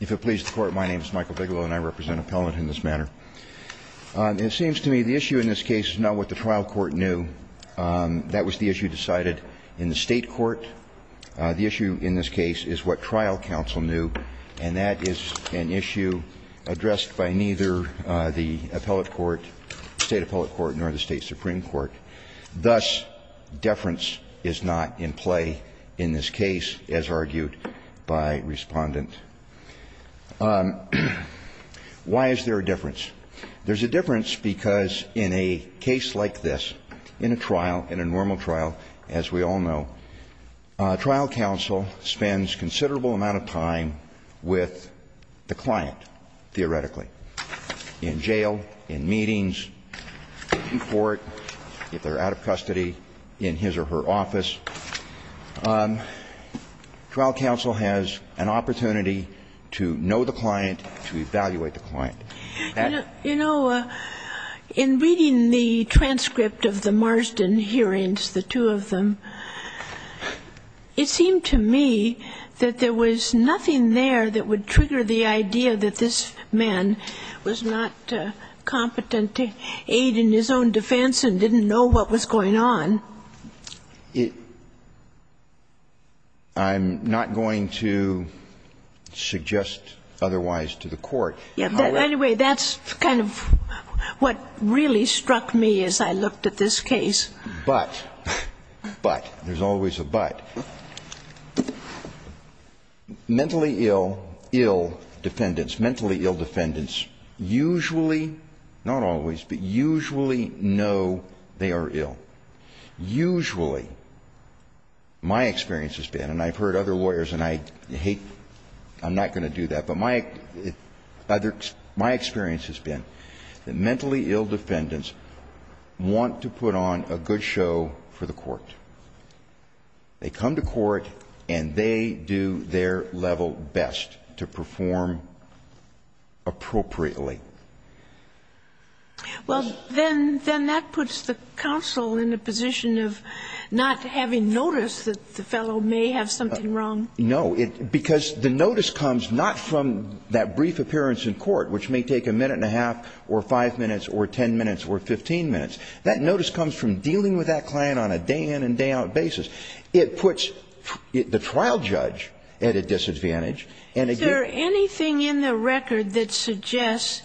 If it pleases the Court, my name is Michael Bigelow, and I represent Appellant in this manner. It seems to me the issue in this case is not what the trial court knew. That was the issue decided in the state court. The issue in this case is what trial counsel knew, and that is an issue addressed by neither the appellate court, the state appellate court, nor the state supreme court. Thus, deference is not in play in this case, as argued by Respondent. Why is there a difference? There's a difference because in a case like this, in a trial, in a normal trial, as we all know, trial counsel spends considerable amount of time with the client, theoretically, in jail, in meetings, in court, if they're out of custody, in his or her office. Trial counsel has an opportunity to know the client, to evaluate the client. Sotomayor You know, in reading the transcript of the Marsden hearings, the two of them, it seemed to me that there was nothing there that would trigger the idea that this man was not competent to aid in his own defense and didn't know what was going on. I'm not going to suggest otherwise to the Court. Anyway, that's kind of what really struck me as I looked at this case. But, but, there's always a but. Mentally ill, ill defendants, mentally ill defendants usually, not always, but usually know they are ill. Usually, my experience has been, and I've heard other lawyers and I hate, I'm not going to do that, but my experience has been that mentally ill defendants want to put on a good show for the court. They come to court and they do their level best to perform appropriately. Sotomayor Well, then, then that puts the counsel in a position of not having notice that the fellow may have something wrong. No. Because the notice comes not from that brief appearance in court, which may take a minute and a half or five minutes or ten minutes or 15 minutes. That notice comes from dealing with that client on a day-in and day-out basis. It puts the trial judge at a disadvantage. And again Is there anything in the record that suggests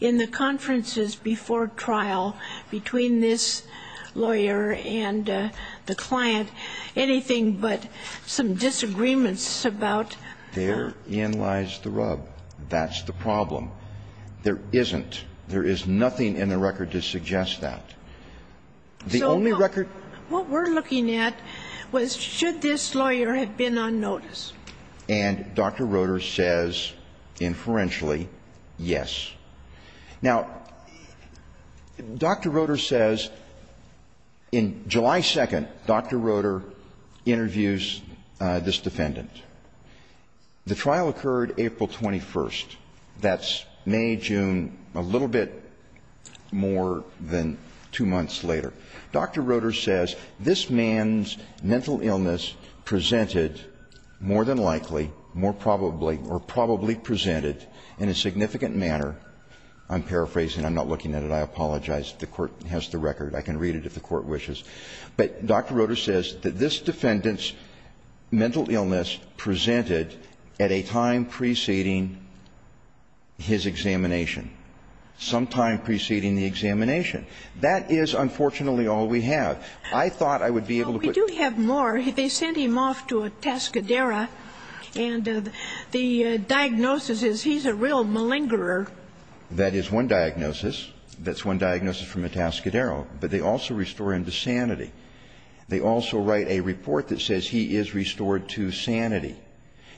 in the conferences before trial between this lawyer and the client anything but some disagreements about Therein lies the rub. That's the problem. There isn't. There is nothing in the record to suggest that. The only record What we're looking at was should this lawyer have been on notice. And Dr. Roeder says inferentially, yes. Now, Dr. Roeder says in July 2nd, Dr. Roeder interviews this defendant. The trial occurred April 21st. That's May, June, a little bit more than two months later. Dr. Roeder says this man's mental illness presented more than likely, more probably or probably presented in a significant manner. I'm paraphrasing. I'm not looking at it. I apologize. The Court has the record. I can read it if the Court wishes. But Dr. Roeder says that this defendant's mental illness presented at a time preceding his examination, sometime preceding the examination. That is unfortunately all we have. I thought I would be able to put We do have more. They sent him off to a Tascadero. And the diagnosis is he's a real malingerer. That is one diagnosis. That's one diagnosis from a Tascadero. But they also restore him to sanity. They also write a report that says he is restored to sanity.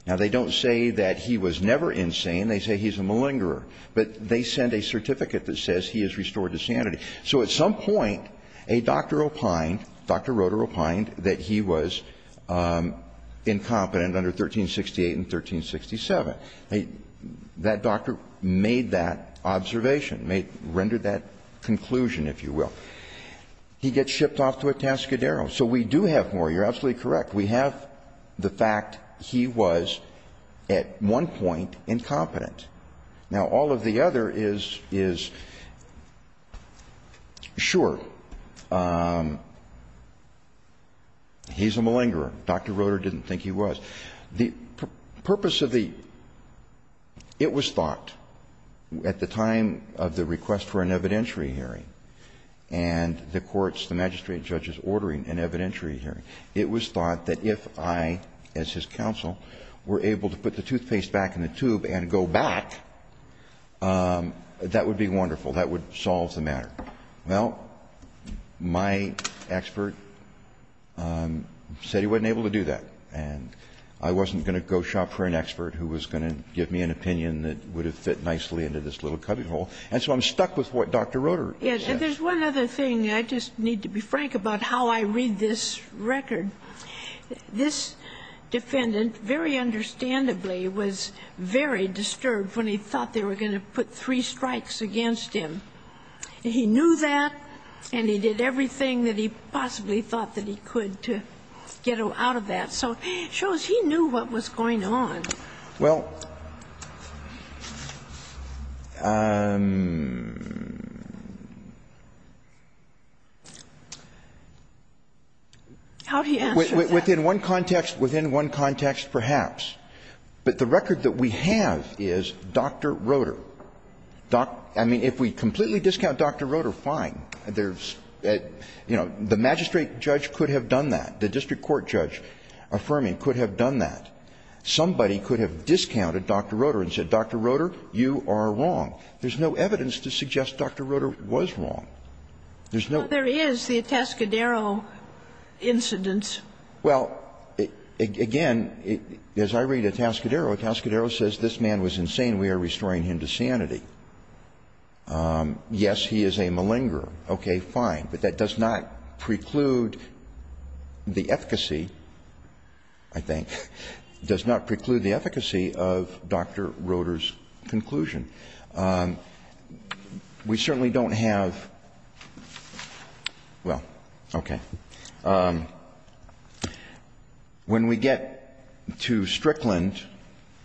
Now, they don't say that he was never insane. But they send a certificate that says he is restored to sanity. So at some point, a doctor opined, Dr. Roeder opined, that he was incompetent under 1368 and 1367. That doctor made that observation, rendered that conclusion, if you will. He gets shipped off to a Tascadero. So we do have more. You're absolutely correct. We have the fact he was at one point incompetent. Now, all of the other is, sure, he's a malingerer. Dr. Roeder didn't think he was. The purpose of the ‑‑ it was thought at the time of the request for an evidentiary hearing and the courts, the magistrate and judges ordering an evidentiary hearing, it was thought that if I, as his counsel, were able to put the toothpaste back in the tube and go back, that would be wonderful. That would solve the matter. Well, my expert said he wasn't able to do that. And I wasn't going to go shop for an expert who was going to give me an opinion that would have fit nicely into this little cubbyhole. And so I'm stuck with what Dr. Roeder says. And there's one other thing. I just need to be frank about how I read this record. This defendant, very understandably, was very disturbed when he thought they were going to put three strikes against him. He knew that, and he did everything that he possibly thought that he could to get out of that. So it shows he knew what was going on. Well, within one context, perhaps. But the record that we have is Dr. Roeder. I mean, if we completely discount Dr. Roeder, fine. You know, the magistrate judge could have done that. The district court judge affirming could have done that. Somebody could have discounted Dr. Roeder and said, Dr. Roeder, you are wrong. There's no evidence to suggest Dr. Roeder was wrong. There's no ---- But there is the Atascadero incident. Well, again, as I read Atascadero, Atascadero says this man was insane. We are restoring him to sanity. Yes, he is a malingerer. Okay, fine. But that does not preclude the efficacy, I think, does not preclude the efficacy of Dr. Roeder's conclusion. We certainly don't have ---- well, okay. When we get to Strickland,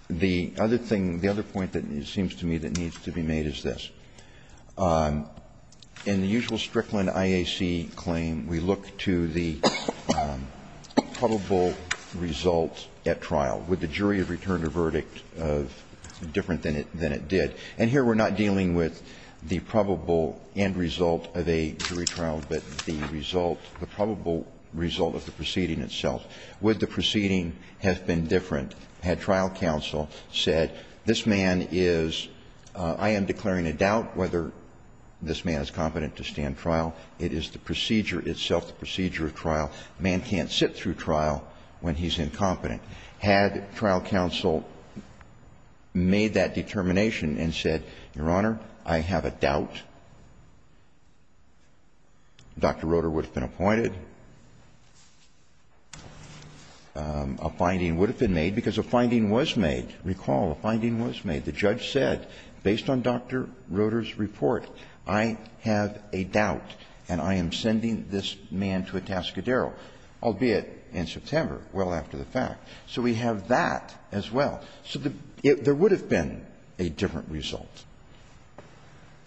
the other thing, the other point that seems to me that needs to be made is this. In the usual Strickland IAC claim, we look to the probable result at trial. Would the jury have returned a verdict different than it did? And here we are not dealing with the probable end result of a jury trial, but the result, the probable result of the proceeding itself. Would the proceeding have been different had trial counsel said this man is ---- I am declaring a doubt whether this man is competent to stand trial. It is the procedure itself, the procedure of trial. A man can't sit through trial when he's incompetent. Had trial counsel made that determination and said, Your Honor, I have a doubt, Dr. Roeder would have been appointed. A finding would have been made, because a finding was made. Recall, a finding was made. The judge said, based on Dr. Roeder's report, I have a doubt and I am sending this man to a Tascadero, albeit in September, well after the fact. So we have that as well. So there would have been a different result.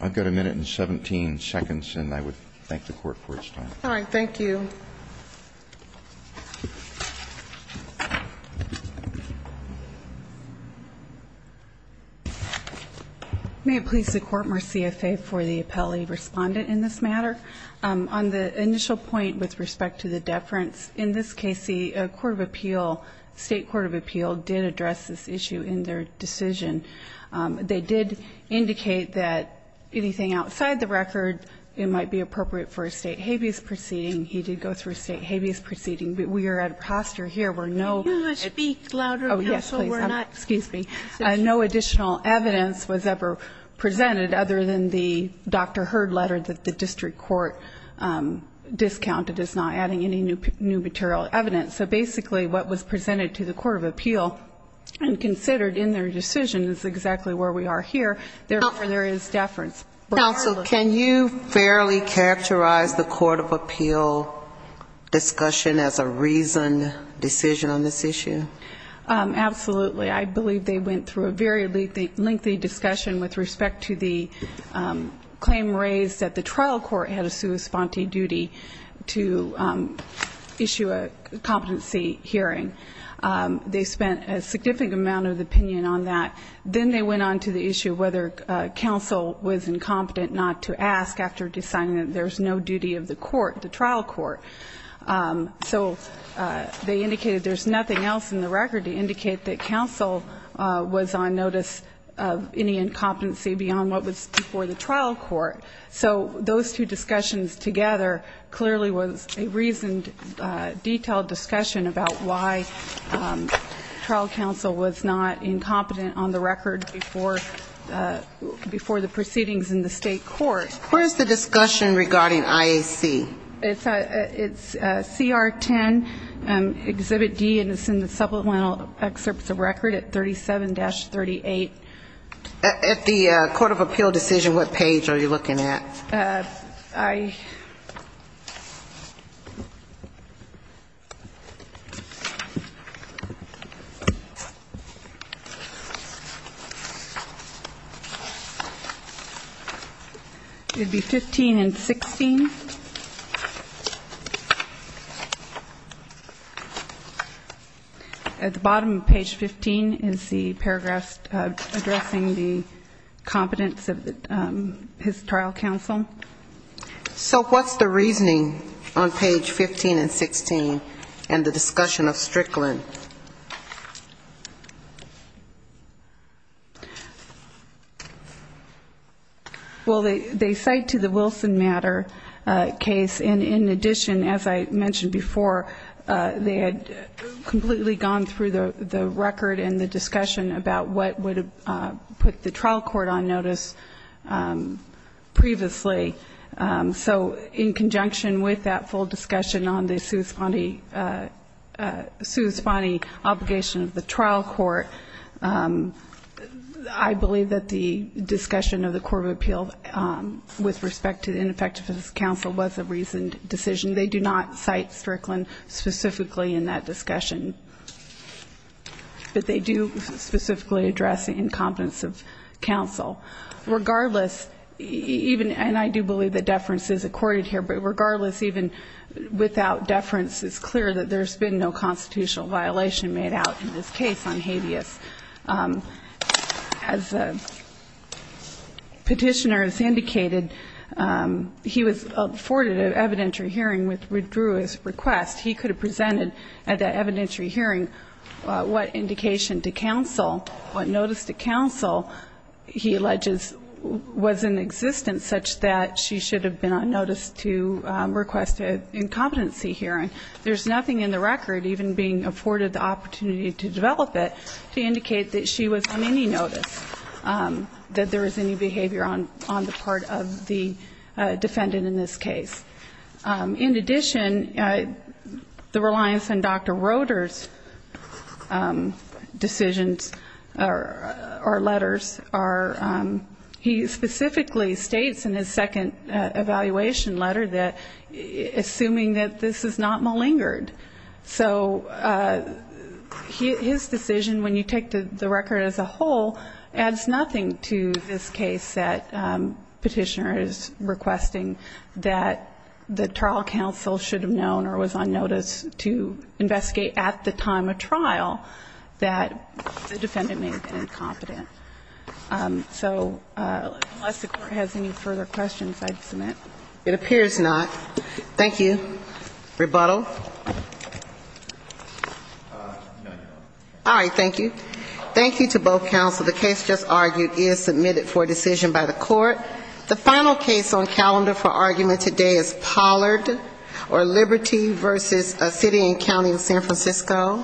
I've got a minute and 17 seconds, and I would thank the Court for its time. All right, thank you. May it please the Court, more CFA for the appellee respondent in this matter. On the initial point with respect to the deference, in this case, the Court of Appeal, State Court of Appeal, did address this issue in their decision. They did indicate that anything outside the record, it might be appropriate for a state habeas proceeding. He did go through a state habeas proceeding. We are at a posture here where no additional evidence was ever presented, other than the Dr. Heard letter that the district court discounted as not adding any new material evidence. So basically what was presented to the Court of Appeal and considered in their decision is exactly where we are here. Therefore, there is deference. Counsel, can you fairly characterize the Court of Appeal discussion as a reasoned decision on this issue? Absolutely. I believe they went through a very lengthy discussion with respect to the claim raised that the trial court had a sua sponte duty to issue a competency hearing. They spent a significant amount of opinion on that. Then they went on to the issue of whether counsel was incompetent not to ask after deciding that there's no duty of the court, the trial court. So they indicated there's nothing else in the record to indicate that counsel was on notice of any incompetency beyond what was before the trial court. So those two discussions together clearly was a reasoned, detailed discussion about why trial counsel was not incompetent on the record before the proceedings in the state court. Where is the discussion regarding IAC? It's CR 10, Exhibit D, and it's in the supplemental excerpts of record at 37-38. At the Court of Appeal decision, what page are you looking at? I... It would be 15 and 16. At the bottom of page 15 is the paragraph addressing the competence of his trial counsel. So what's the reasoning on page 15 and 16 and the discussion of Strickland? Well, they cite to the Wilson matter case, and in addition, as I mentioned before, they had completely gone through the record and the discussion about what would put the trial court on notice previously. So in conjunction with that full discussion on the sui sponte obligation of the trial court, I believe that the discussion of the Court of Appeal with respect to the ineffectiveness of counsel was a reasoned decision. They do not cite Strickland specifically in that discussion. But they do specifically address the incompetence of counsel. Regardless, even, and I do believe that deference is accorded here, but regardless, even without deference, it's clear that there's been no constitutional violation made out in this case on habeas. As the Petitioner has indicated, he was afforded an evidentiary hearing which withdrew his request. He could have presented at that evidentiary hearing what indication to counsel, what notice to counsel, he alleges, was in existence such that she should have been on notice to request an incompetency hearing. There's nothing in the record, even being afforded the opportunity to develop it, to indicate that she was on any notice, that there was any behavior on the part of the defendant in this case. In addition, the reliance on Dr. Roeder's decisions on behalf of the defendant, or letters, are, he specifically states in his second evaluation letter that, assuming that this is not malingered. So his decision, when you take the record as a whole, adds nothing to this case that Petitioner is requesting, that the trial counsel should have known or was on notice to investigate at the time of trial, that the defendant may have been incompetent. So unless the Court has any further questions, I'd submit. It appears not. Thank you. Rebuttal? All right. Thank you. Thank you to both counsel. The case just argued is submitted for decision by the Court. The final case on calendar for argument today is Pollard v. Liberty v. City and County of San Francisco.